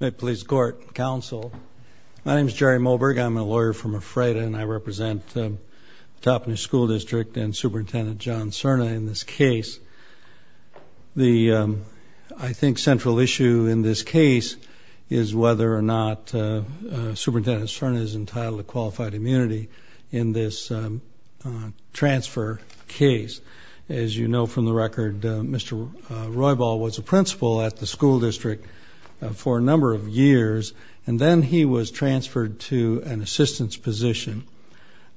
May it please the court and counsel, my name is Jerry Moberg. I'm a lawyer from Ephrata and I represent Toppenish School District and Superintendent John Serna in this case. The, I think, central issue in this case is whether or not Superintendent Serna is entitled to qualified immunity in this transfer case. As you know from the record, Mr. Roybal was a principal at the school district for a number of years and then he was transferred to an assistance position.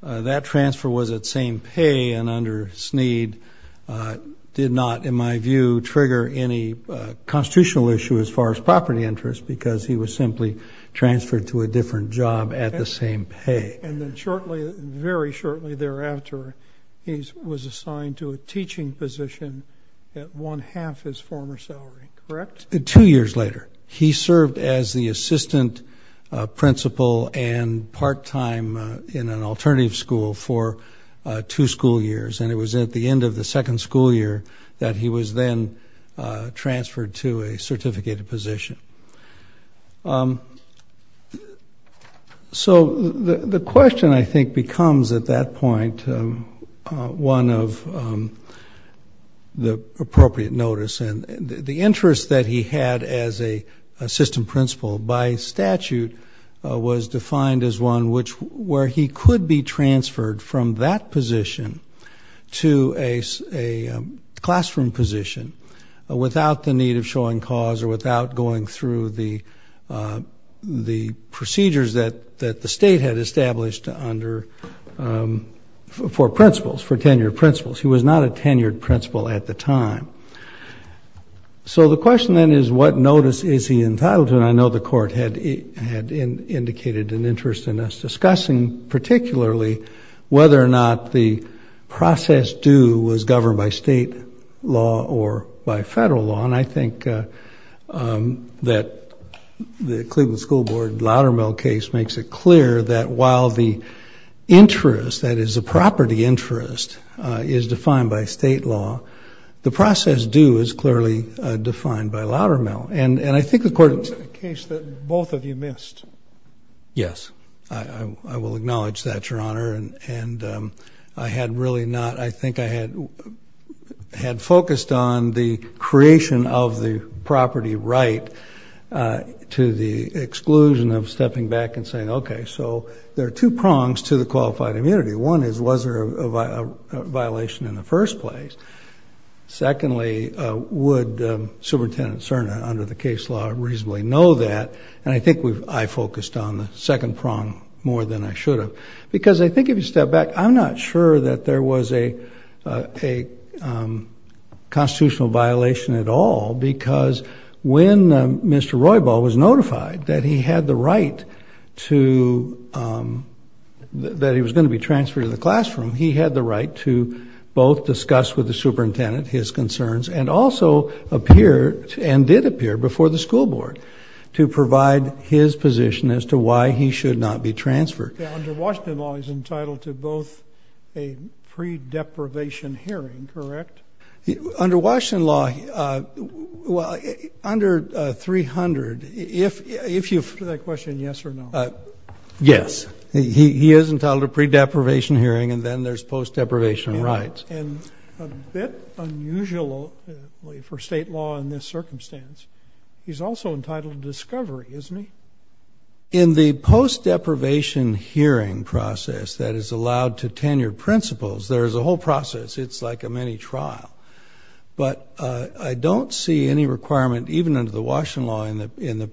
That transfer was at same pay and under Snead did not, in my view, trigger any constitutional issue as far as property interest because he was simply transferred to a different job at the same pay. And then shortly, very shortly thereafter, he was assigned to a teaching position at one-half his former salary, correct? Two years later. He served as the assistant principal and part-time in an alternative school for two school years and it was at the end of the second school year that he was then transferred to a certificated position. So the question, I think, becomes at that point one of the appropriate notice and the interest that he had as a assistant principal by statute was defined as one which where he could be transferred from that position to a classroom position without the need of showing cause or without going through the procedures that the state had established under, for principals, for tenured principal at the time. So the question then is what notice is he entitled to? And I know the court had indicated an interest in us discussing, particularly, whether or not the process due was governed by state law or by federal law. And I think that the Cleveland School Board Loudermill case makes it clear that while the interest, that is a property interest, is defined by state law, the process due is clearly defined by Loudermill. And I think the court... It was a case that both of you missed. Yes, I will acknowledge that, Your Honor, and I had really not, I think I had had focused on the creation of the property right to the exclusion of stepping back and saying, okay, so there are two prongs to the qualified immunity. One is was there a violation in the first place? Secondly, would Superintendent Cerna, under the case law, reasonably know that? And I think I focused on the second prong more than I should have. Because I think if you step back, I'm not sure that there was a constitutional violation at all, because when Mr. Roybal was notified that he had the right to, that he was going to be transferred to the classroom, he had the right to both discuss with the superintendent his concerns and also appear, and did appear before the school board, to provide his position as to why he should not be transferred. Under Washington law, he's entitled to both a pre-deprivation hearing, correct? Under Washington law, well, under 300, if you... Answer that question yes or no. Yes, he is entitled to a pre-deprivation hearing and then there's post-deprivation rights. And a bit unusually for state law in this circumstance, he's also entitled to discovery, isn't he? In the post- deprivation hearing process that is allowed to tenure principals, there's a whole process. It's like a mini trial. But I don't see any requirement, even under the Washington law, in the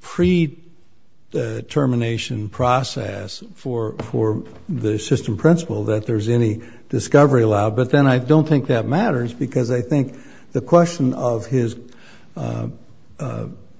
pre-determination process for the assistant principal, that there's any discovery allowed. But then I don't think that matters, because I think the question of his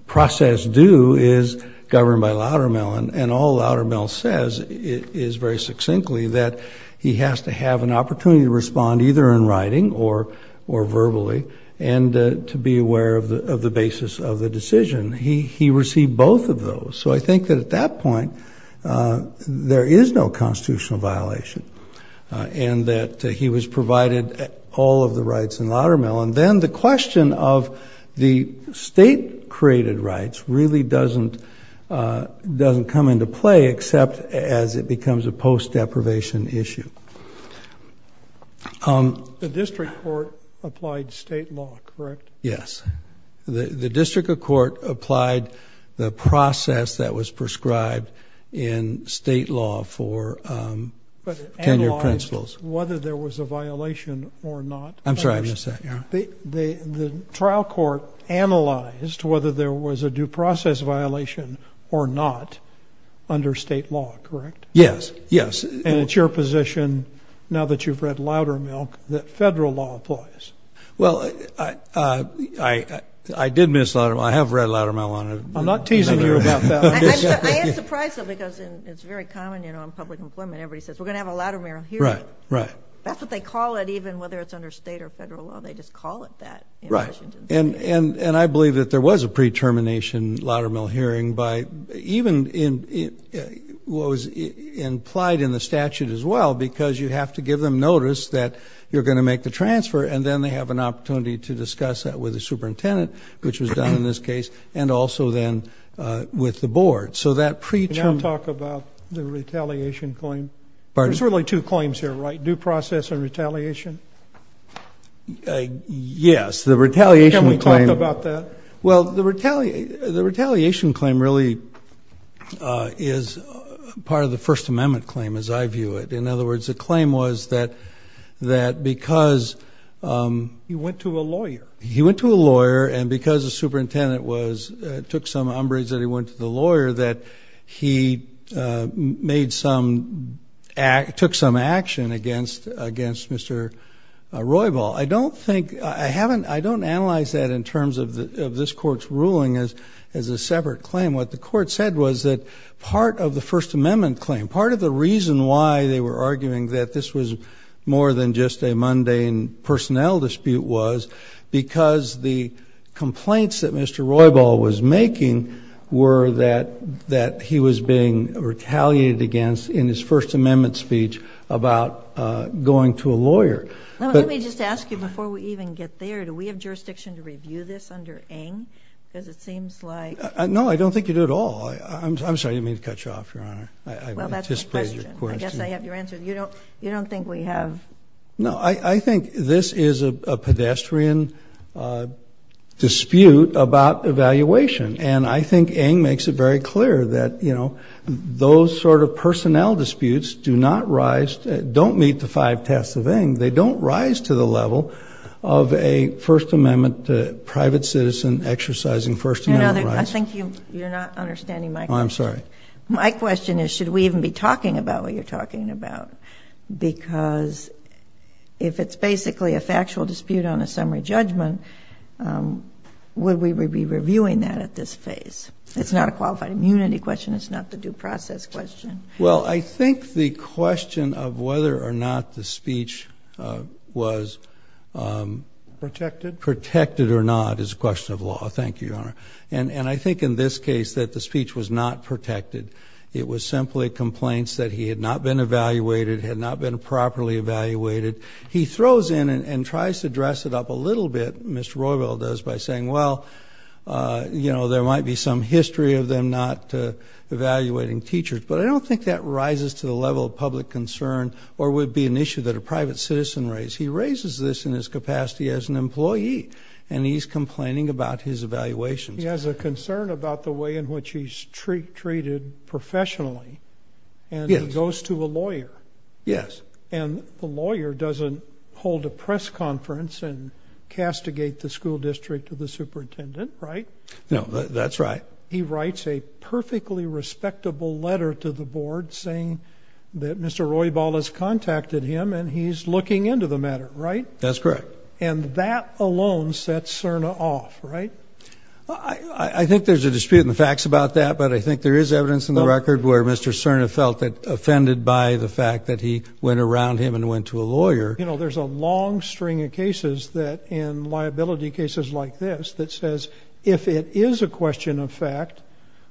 process due is governed by Loudermill, and all Loudermill says is very succinctly that he has to have an opportunity to respond either in writing or verbally, and to be aware of the basis of the decision. He received both of those. So I think that at that point, there is no constitutional violation, and that he was provided all of the rights in Loudermill. And then the question of the state-created rights really doesn't doesn't come into play, except as it becomes a post-deprivation issue. The district court applied state law, correct? Yes, the district court applied the in state law for tenure principals. But analyzed whether there was a violation or not. I'm sorry, I missed that. The trial court analyzed whether there was a due process violation or not under state law, correct? Yes, yes. And it's your position, now that you've read Loudermilk, that federal law applies? Well, I did miss Loudermilk. I have read it. I'm surprised though, because it's very common, you know, in public employment, everybody says, we're going to have a Loudermill hearing. Right, right. That's what they call it, even whether it's under state or federal law, they just call it that. Right, and I believe that there was a pre-termination Loudermill hearing by, even in what was implied in the statute as well, because you have to give them notice that you're going to make the transfer, and then they have an opportunity to discuss that with the superintendent, which was done in this case, and also then with the board. So that pre-term... Now talk about the retaliation claim. There's really two claims here, right? Due process and retaliation? Yes, the retaliation claim... Can we talk about that? Well, the retaliation claim really is part of the First Amendment claim, as I view it. In other words, the claim was that because... He went to a lawyer. He went to a lawyer, and it was... It took some umbrage that he went to the lawyer, that he made some... took some action against Mr. Roybal. I don't think... I haven't... I don't analyze that in terms of this court's ruling as a separate claim. What the court said was that part of the First Amendment claim, part of the reason why they were arguing that this was more than just a mundane personnel dispute was because the complaints that Mr. Roybal was making were that he was being retaliated against in his First Amendment speech about going to a lawyer. Let me just ask you before we even get there, do we have jurisdiction to review this under Ng? Because it seems like... No, I don't think you do at all. I'm sorry, I didn't mean to cut you off, Your Honor. I guess I have your answer. You don't I think Ng makes it very clear that, you know, those sort of personnel disputes do not rise... don't meet the five tests of Ng. They don't rise to the level of a First Amendment private citizen exercising First Amendment rights. No, no, I think you're not understanding my question. Oh, I'm sorry. My question is, should we even be talking about what you're talking about? Because if it's basically a factual dispute on a summary judgment, would we be reviewing that at this phase? It's not a qualified immunity question. It's not the due process question. Well, I think the question of whether or not the speech was protected or not is a question of law. Thank you, Your Honor. And I think in this case that the speech was not protected. It was simply complaints that he had not been evaluated, had not been properly evaluated. He throws in and tries to dress it up a little bit, Mr. Royville does, by saying, well, you know, there might be some history of them not evaluating teachers, but I don't think that rises to the level of public concern or would be an issue that a private citizen raised. He raises this in his capacity as an employee, and he's complaining about his evaluations. He has a concern about the way in which he's treated professionally, and he goes to a lawyer. Yes. And the lawyer doesn't hold a press conference and castigate the school district of the superintendent, right? No, that's right. He writes a perfectly respectable letter to the board saying that Mr. Royville has contacted him, and he's looking into the matter, right? That's correct. And that alone sets Cerna off, right? I think there's a dispute in the facts about that, but I think there is evidence in the record where Mr. Cerna felt offended by the fact that he went around him and went to a lawyer. You know, there's a long string of cases that, in liability cases like this, that says if it is a question of fact,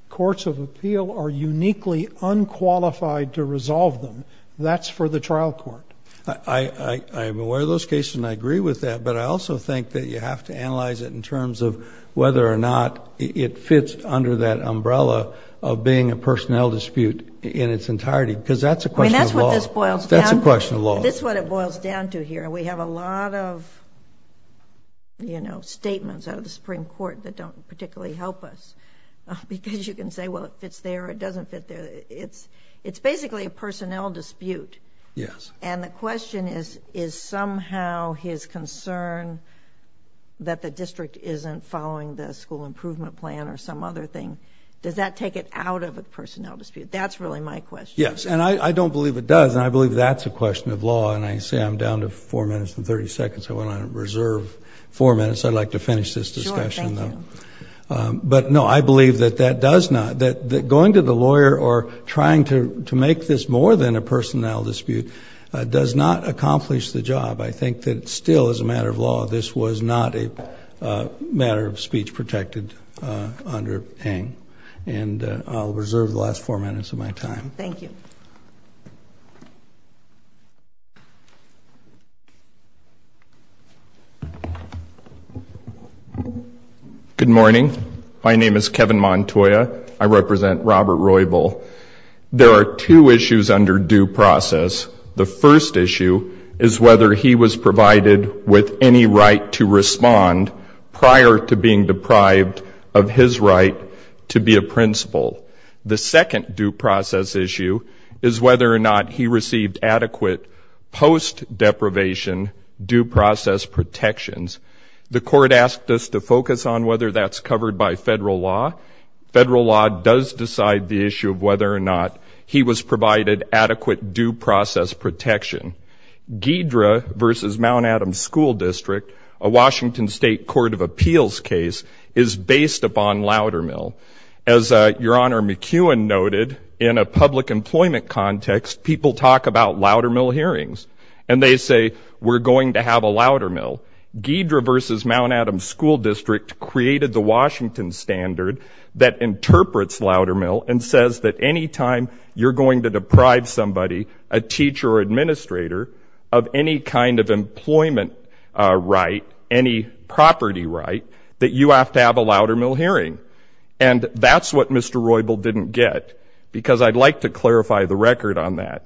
courts of appeal are uniquely unqualified to resolve them. That's for the trial court. I am aware of those cases, and I agree with that, but I also think that you have to analyze it in terms of whether or not it fits under that umbrella of being a personnel dispute in its entirety, because that's a question of law. I mean, that's what this boils down to here. We have a lot of, you know, statements out of the Supreme Court that don't particularly help us, because you can say, well, it fits there, it doesn't fit there. It's basically a personnel dispute. Yes. And the question is, is somehow his concern that the district isn't following the school improvement plan or some other thing, does that take it out of a personnel dispute? That's really my question. Yes, and I don't believe it does, and I believe that's a question of law, and I say I'm down to four minutes and 30 seconds. I went on a reserve four minutes. I'd like to finish this discussion, though. But no, I believe that that does not. That going to the lawyer or trying to make this more than a personnel dispute does not accomplish the job. I think that still, as a matter of law, this was not a matter of speech protected under Heng. And I'll reserve the last four minutes of my time. Thank you. Good morning. My name is Kevin Montoya. I represent Robert Roybal. There are two issues under due process. The first issue is whether he was provided with any right to respond prior to being deprived of his right to be a principal. The second due process issue is whether or not he received adequate post-deprivation due process protections. The court asked us to focus on whether that's covered by federal law. Federal law does decide the issue of whether or not he was provided adequate due process protection. Ghidra v. Mount Adams School District, a Washington State Court of Appeals case, is based upon Loudermill. As Your Honor McEwen noted, in a public employment context, people talk about Loudermill hearings, and they say, we're going to have a Loudermill. Ghidra v. Mount Adams School District created the Washington Standard that interprets Loudermill and says that any time you're going to deprive somebody, a teacher or administrator, of any kind of employment right, any property right, that you have to have a Loudermill hearing. And that's what Mr. Roybal didn't get, because I'd like to clarify the record on that.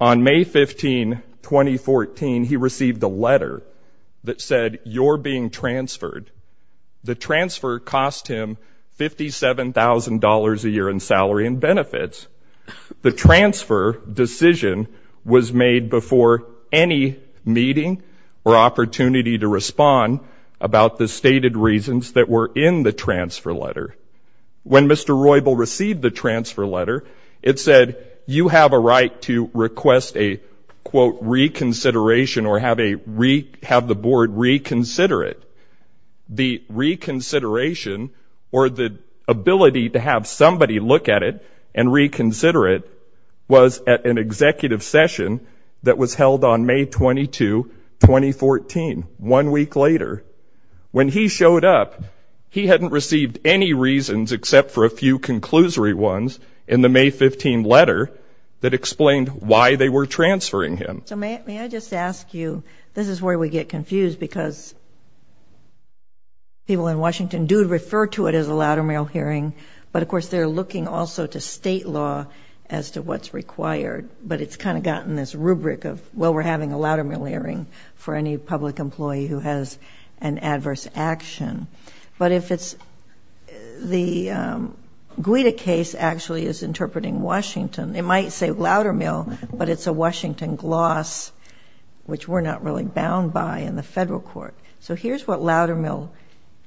On May 15, 2014, he received a letter that said, you're being transferred. The transfer cost him $57,000 a year in salary and benefits. The transfer decision was made before any meeting or opportunity to respond about the stated reasons that were in the transfer letter. When Mr. Roybal received the transfer letter, it said, you have a right to request a, quote, reconsideration or have the board reconsider it. The reconsideration, or the ability to have somebody look at it and reconsider it, was at an executive session that was held on May 22, 2014, one week later. When he showed up, he hadn't received any reasons except for a few conclusory ones in the May 15 letter that explained why they were transferring him. So may I just ask you, this is where we get confused, because people in Washington do refer to it as a Loudermill hearing, but of course they're looking also to state law as to what's required. But it's kind of gotten this rubric of, well, we're having a Loudermill hearing for any public employee who has an adverse action. But if it's the Guida case actually is interpreting Washington, it might say Loudermill, but it's a Washington gloss, which we're not really bound by in the federal court. So here's what Loudermill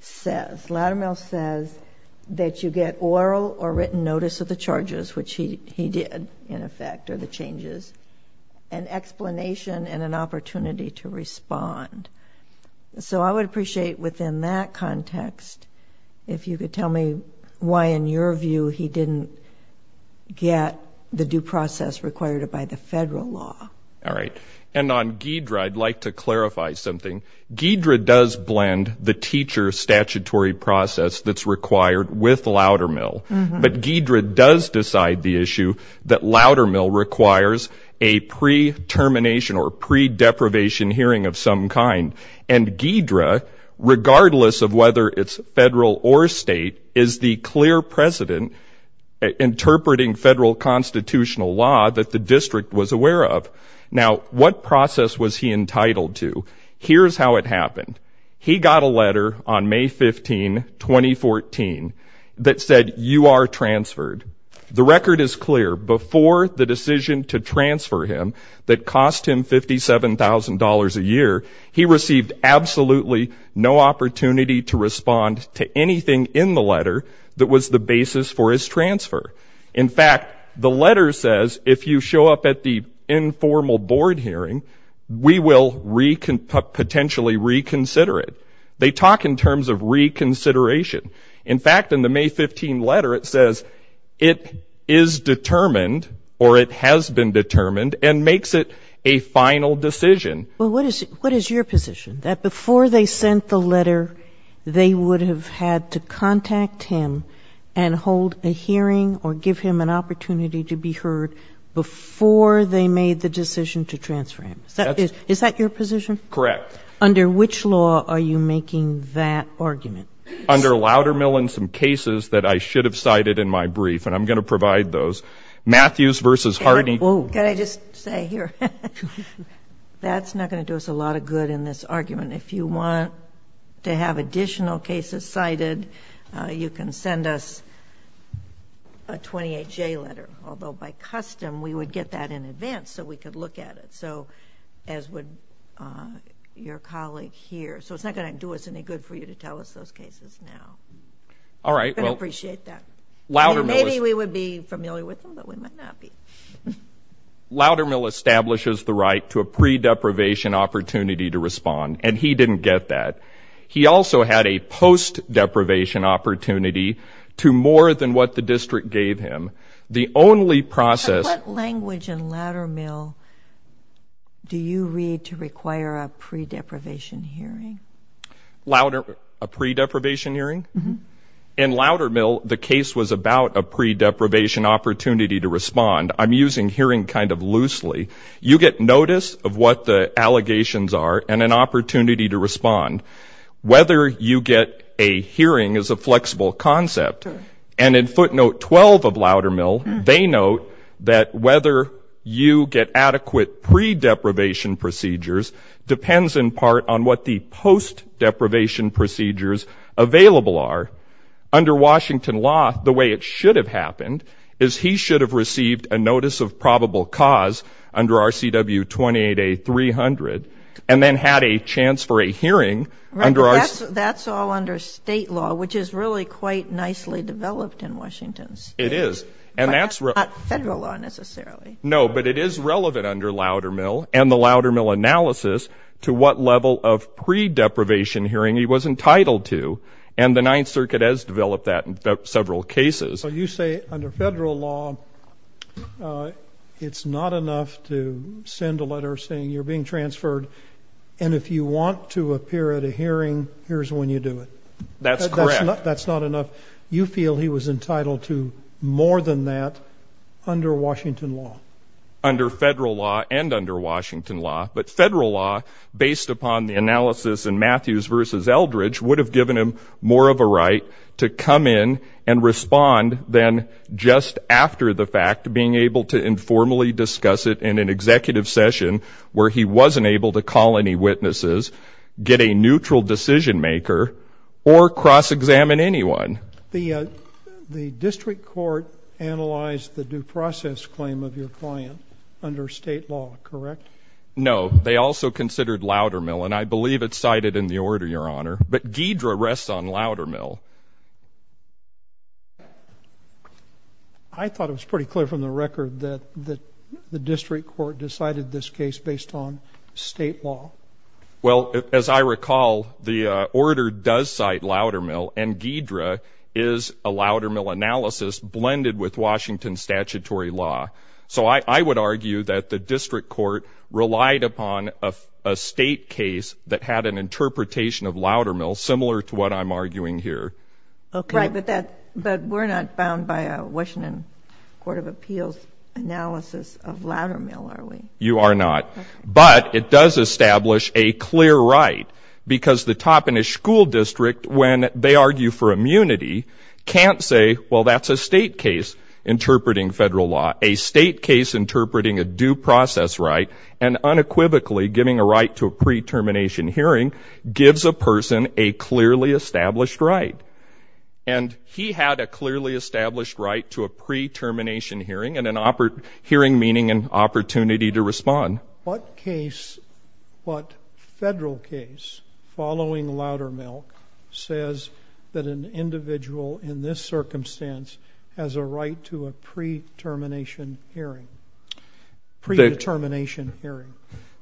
says. Loudermill says that you get oral or written notice of the charges, which he did in effect, or the changes, an explanation and an opportunity to respond. So I would appreciate within that context, if you could tell me why in your view he didn't get the due process required by the federal law. All right. And on Guidra, I'd like to clarify something. Guidra does blend the teacher statutory process that's required with Loudermill. But Guidra does decide the issue that Loudermill requires a pre-termination or pre-deprivation hearing of some kind. And Guidra, regardless of whether it's federal or state, is the clear precedent interpreting federal constitutional law that the district was aware of. Now, what process was he entitled to? Here's how it He was entitled to a letter in June 2014 that said, you are transferred. The record is clear. Before the decision to transfer him that cost him $57,000 a year, he received absolutely no opportunity to respond to anything in the letter that was the basis for his transfer. In fact, the letter says, if you show up at the informal board hearing, we will potentially consider you. In fact, in the May 15 letter, it says it is determined or it has been determined and makes it a final decision. Well, what is your position? That before they sent the letter, they would have had to contact him and hold a hearing or give him an opportunity to be heard before they made the decision to transfer him. Is that your position? Correct. Under which law are you making that argument? Under Loudermill and some cases that I should have cited in my brief, and I'm going to provide those. Matthews v. Harding Can I just say here, that's not going to do us a lot of good in this argument. If you want to have additional cases cited, you can send us a 28J letter, although by custom, we would get that in advance so we could look at it, as would your colleague here. So, it's not going to do us any good for you to tell us those cases now, but I appreciate that. Maybe we would be familiar with them, but we might not be. Loudermill establishes the right to a pre-deprivation opportunity to respond, and he didn't get that. He also had a post-deprivation opportunity to more than what the district gave him. The only process What language in Loudermill do you read to require a pre-deprivation hearing? A pre-deprivation hearing? In Loudermill, the case was about a pre-deprivation opportunity to respond. I'm using hearing kind of loosely. You get notice of what the allegations are and an opportunity to respond. Whether you get a hearing is a flexible concept, and in that, whether you get adequate pre-deprivation procedures depends in part on what the post-deprivation procedures available are. Under Washington law, the way it should have happened is he should have received a notice of probable cause under RCW 28A-300 and then had a chance for a hearing under RCW 28A-300. That's all under state law, which is really quite nicely developed in Washington state. It is. But that's not federal law necessarily. No, but it is relevant under Loudermill and the Loudermill analysis to what level of pre-deprivation hearing he was entitled to, and the Ninth Circuit has developed that in several cases. You say under federal law, it's not enough to send a letter saying you're being transferred and if you want to appear at a hearing, here's when you do it. That's correct. That's not enough. You feel he was entitled to more than that under Washington law? Under federal law and under Washington law. But federal law, based upon the analysis in Matthews v. Eldridge, would have given him more of a right to come in and respond than just after the fact, being able to informally discuss it in an executive session where he was a neutral decision maker or cross-examine anyone. The district court analyzed the due process claim of your client under state law, correct? No. They also considered Loudermill, and I believe it's cited in the order, Your Honor. But Ghidra rests on Loudermill. I thought it was pretty clear from the record that the district court decided this case based on state law. Well, as I recall, the order does cite Loudermill, and Ghidra is a Loudermill analysis blended with Washington statutory law. So I would argue that the district court relied upon a state case that had an interpretation of Loudermill, similar to what I'm arguing here. Right, but we're not bound by a Washington Court of Appeals analysis of Loudermill, are we? You are not. But it does establish a clear right, because the top in a school district, when they argue for immunity, can't say, well, that's a state case interpreting federal law. A state case interpreting a due process right and unequivocally giving a right to a pre-termination hearing gives a person a clearly established right. And he had a clearly established right to a pre-termination hearing and an opportunity to respond. What case, what federal case, following Loudermill, says that an individual in this circumstance has a right to a pre-termination hearing? Pre-determination hearing?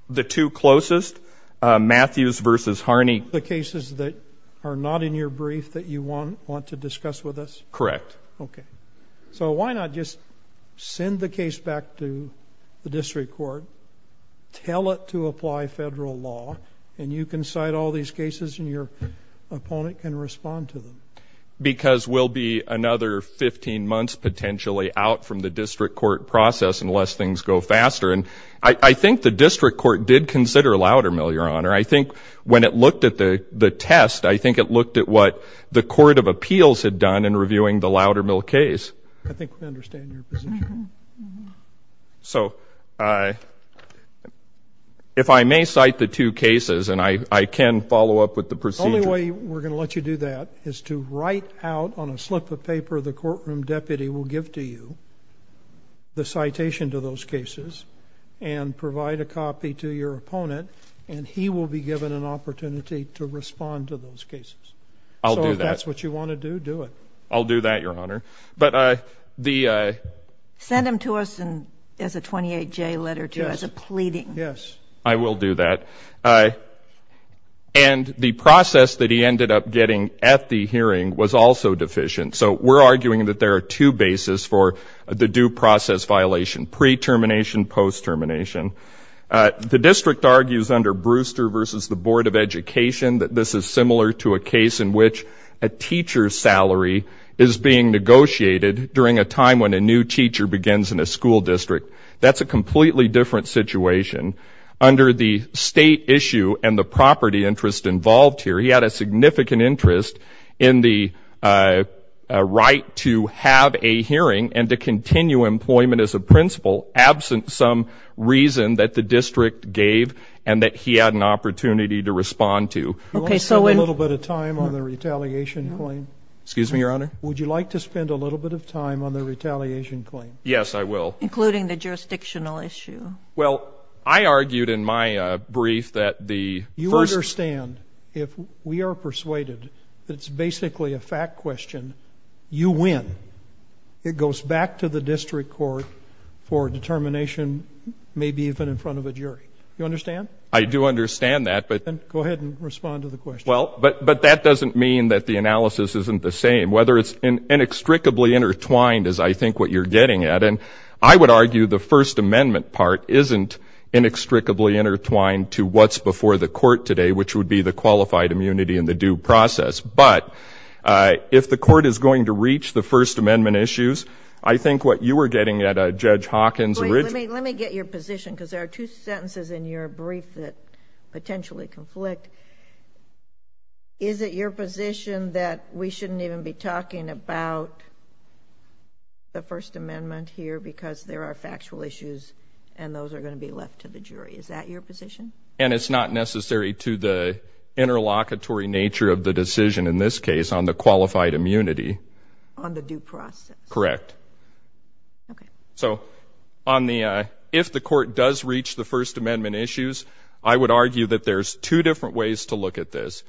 The two closest, Matthews v. Harney. The cases that are not in your brief that you want to discuss with us? Correct. Okay. So why not just send the case back to the district court, tell it to apply federal law, and you can cite all these cases and your opponent can respond to them? Because we'll be another 15 months potentially out from the district court process unless things go faster. And I think the district court did consider Loudermill, Your Honor. I think when it looked at the test, I think it looked at what the Court of Appeals had done in reviewing the Loudermill case. I think we understand your position. So if I may cite the two cases, and I can follow up with the procedure. The only way we're going to let you do that is to write out on a slip of paper the courtroom deputy will give to you the citation to those cases and provide a copy to your opponent and he will be given an opportunity to respond to those cases. I'll do that. If that's what you want to do, do it. I'll do that, Your Honor. But the... Send him to us as a 28-J letter, too, as a pleading. Yes. I will do that. And the process that he ended up getting at the hearing was also deficient. So we're arguing that there are two bases for the due process violation, pre-termination, post-termination. The district argues under Brewster v. the Board of Education that this is similar to a case in which a teacher's salary is being negotiated during a time when a new teacher begins in a school district. That's a completely different situation. Under the state issue and the property interest involved here, he had a significant interest in the right to have a hearing and to continue employment as a principal, absent some reason that the district gave and that he had an opportunity to respond to. Do you want to spend a little bit of time on the retaliation claim? Excuse me, Your Honor? Would you like to spend a little bit of time on the retaliation claim? Yes, I will. Including the jurisdictional issue. Well, I argued in my brief that the first... You understand, if we are persuaded that it's basically a fact question, you win. It goes back to the district court for determination, maybe even in front of a jury. You understand? I do understand that, but... Go ahead and respond to the question. But that doesn't mean that the analysis isn't the same. Whether it's inextricably intertwined is, I think, what you're getting at. I would argue the First Amendment part isn't inextricably intertwined to what's before the court today, which would be the qualified immunity and the due process. But if the court is going to reach the First Amendment issues, I think what you were getting at, Judge Hawkins... Let me get your position, because there are two sentences in your brief that potentially conflict. Is it your position that we shouldn't even be talking about the First Amendment here because there are factual issues and those are going to be left to the jury? Is that your position? And it's not necessary to the interlocutory nature of the decision, in this case, on the qualified immunity. On the due process. Correct. Okay. So, if the court does reach the First Amendment issues, I would argue that there's two different ways to look at this.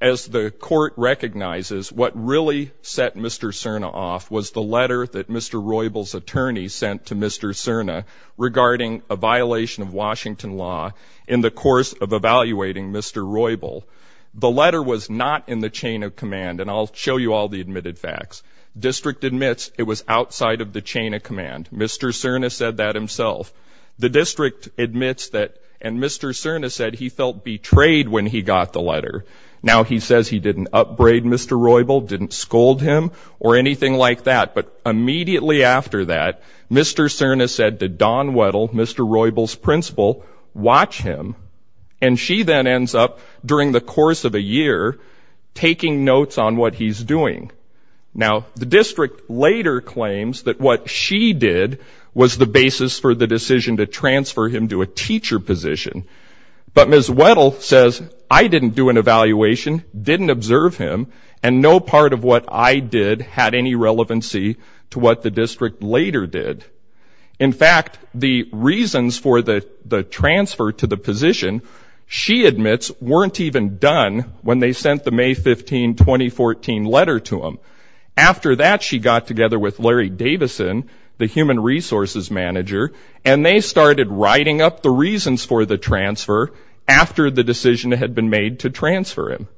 As the court recognizes, what really set Mr. Cerna off was the letter that Mr. Roybal's attorney sent to Mr. Cerna regarding a violation of Washington law in the course of evaluating Mr. Roybal. The letter was not in the chain of command, and I'll Mr. Cerna said that himself. The district admits that, and Mr. Cerna said he felt betrayed when he got the letter. Now, he says he didn't upbraid Mr. Roybal, didn't scold him, or anything like that, but immediately after that, Mr. Cerna said to Dawn Weddle, Mr. Roybal's principal, watch him, and she then ends up, during the course of a year, taking notes on what he's doing. Now, the district later claims that what she did was the basis for the decision to transfer him to a teacher position, but Ms. Weddle says, I didn't do an evaluation, didn't observe him, and no part of what I did had any relevancy to what the district later did. In fact, the reasons for the transfer to the position, she admits, weren't even done when they sent the May 15, 2014 letter to him. After that, she got together with Larry Davison, the human resources manager, and they started writing up the reasons for the transfer after the decision had been made to transfer him.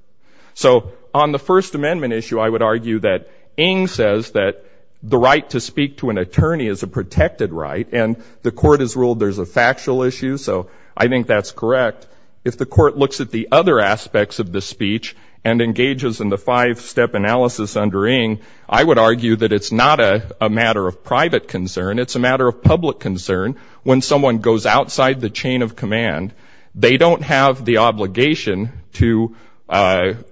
So, on the First Amendment issue, I would argue that Ng says that the right to speak to an attorney is a protected right, and the court has ruled there's a factual issue, so I think that's correct. If the court looks at the other aspects of the speech and engages in the five-step analysis under Ng, I would argue that it's not a matter of private concern, it's a matter of public concern. When someone goes outside the chain of command, they don't have the obligation to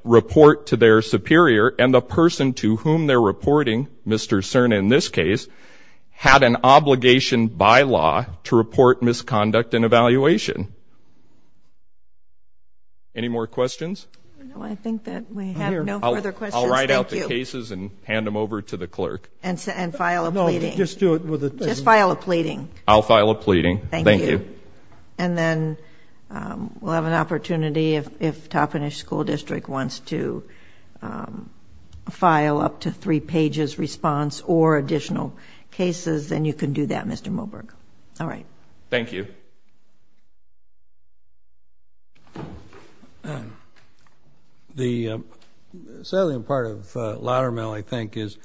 report to their superior, and the person to whom they're reporting, Mr. Cerna in this case, had an obligation. Any more questions? No, I think that we have no further questions. I'll write out the cases and hand them over to the clerk. And file a pleading. Just file a pleading. I'll file a pleading, thank you. And then we'll have an opportunity if Toppenish School District wants to file up to three pages response or additional cases, then you can do that, Mr. Moberg. All right. Thank you. The salient part of Lattermell, I think, is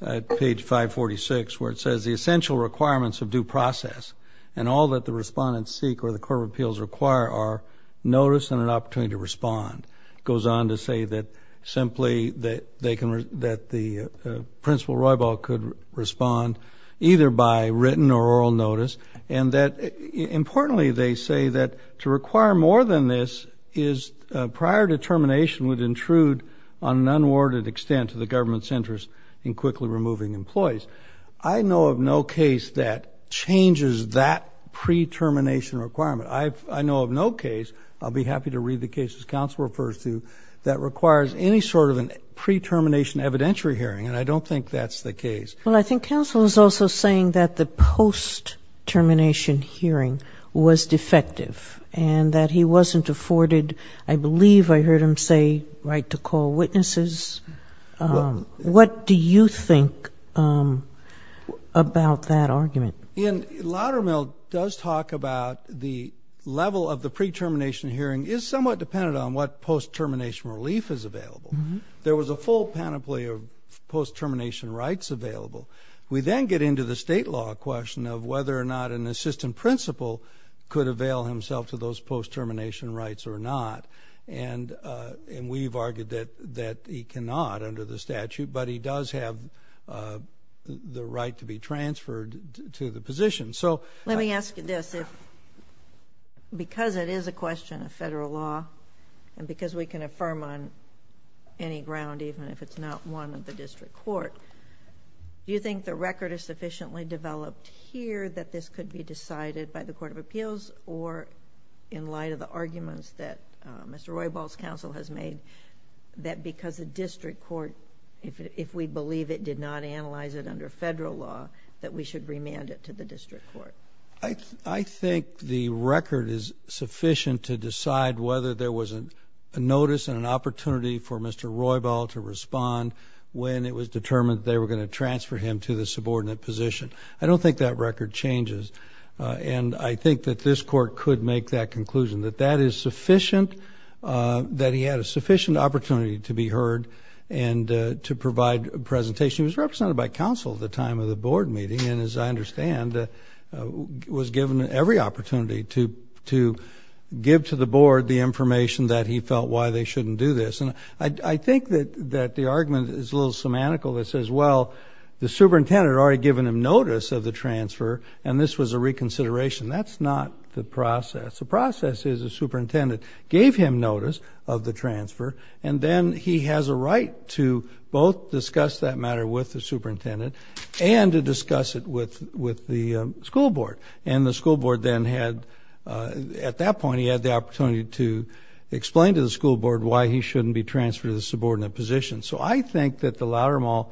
at page 546 where it says the essential requirements of due process and all that the respondents seek or the court of appeals require are notice and an opportunity to respond. It goes on to say that simply that the principal Roybal could respond either by written or written or oral notice, and that, importantly, they say that to require more than this is prior determination would intrude on an unwarranted extent to the government's interest in quickly removing employees. I know of no case that changes that pre-termination requirement. I know of no case, I'll be happy to read the cases counsel refers to, that requires any sort of a pre-termination evidentiary hearing, and I don't think that's the case. Well, I was also saying that the post-termination hearing was defective and that he wasn't afforded, I believe I heard him say, right to call witnesses. What do you think about that argument? Lattermell does talk about the level of the pre-termination hearing is somewhat dependent on what post-termination relief is available. There was a full panoply of post-termination rights available. We then get into the state law question of whether or not an assistant principal could avail himself to those post-termination rights or not, and we've argued that he cannot under the statute, but he does have the right to be transferred to the position. Let me ask you this, because it is a question of federal law, and because we can affirm on any ground even if it's not one of the district court, do you think the record is sufficiently developed here that this could be decided by the Court of Appeals, or in light of the arguments that Mr. Roybal's counsel has made, that because the district court, if we believe it did not I think the record is sufficient to decide whether there was a notice and an opportunity for Mr. Roybal to respond when it was determined that they were going to transfer him to the subordinate position. I don't think that record changes, and I think that this court could make that conclusion, that that is sufficient, that he had a sufficient opportunity to be heard and to provide a presentation. He was represented by counsel at the time of the transfer, and he was given every opportunity to give to the board the information that he felt why they shouldn't do this. I think that the argument is a little semantical that says, well, the superintendent had already given him notice of the transfer, and this was a reconsideration. That's not the process. The process is the superintendent gave him notice of the transfer, and then he has a right to both discuss that matter with the school board. At that point, he had the opportunity to explain to the school board why he shouldn't be transferred to the subordinate position. So I think that the Loudermill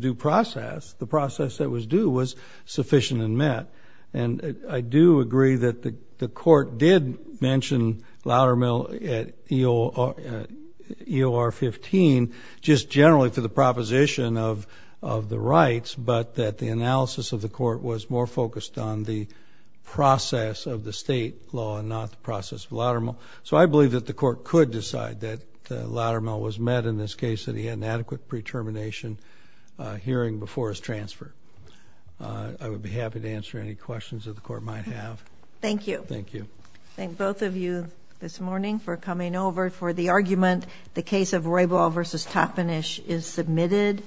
due process, the process that was due, was sufficient and met. I do agree that the court did mention Loudermill at EOR 15 just generally for the proposition of the rights, but that the analysis of the court was more focused on the process of the state law and not the process of Loudermill. So I believe that the court could decide that Loudermill was met in this case, that he had an adequate pre-termination hearing before his transfer. I would be happy to answer any questions that the court might have. Thank you. Thank you. Thank both of you this morning for coming over for the argument. The case of Roybal v. Toppenish is submitted.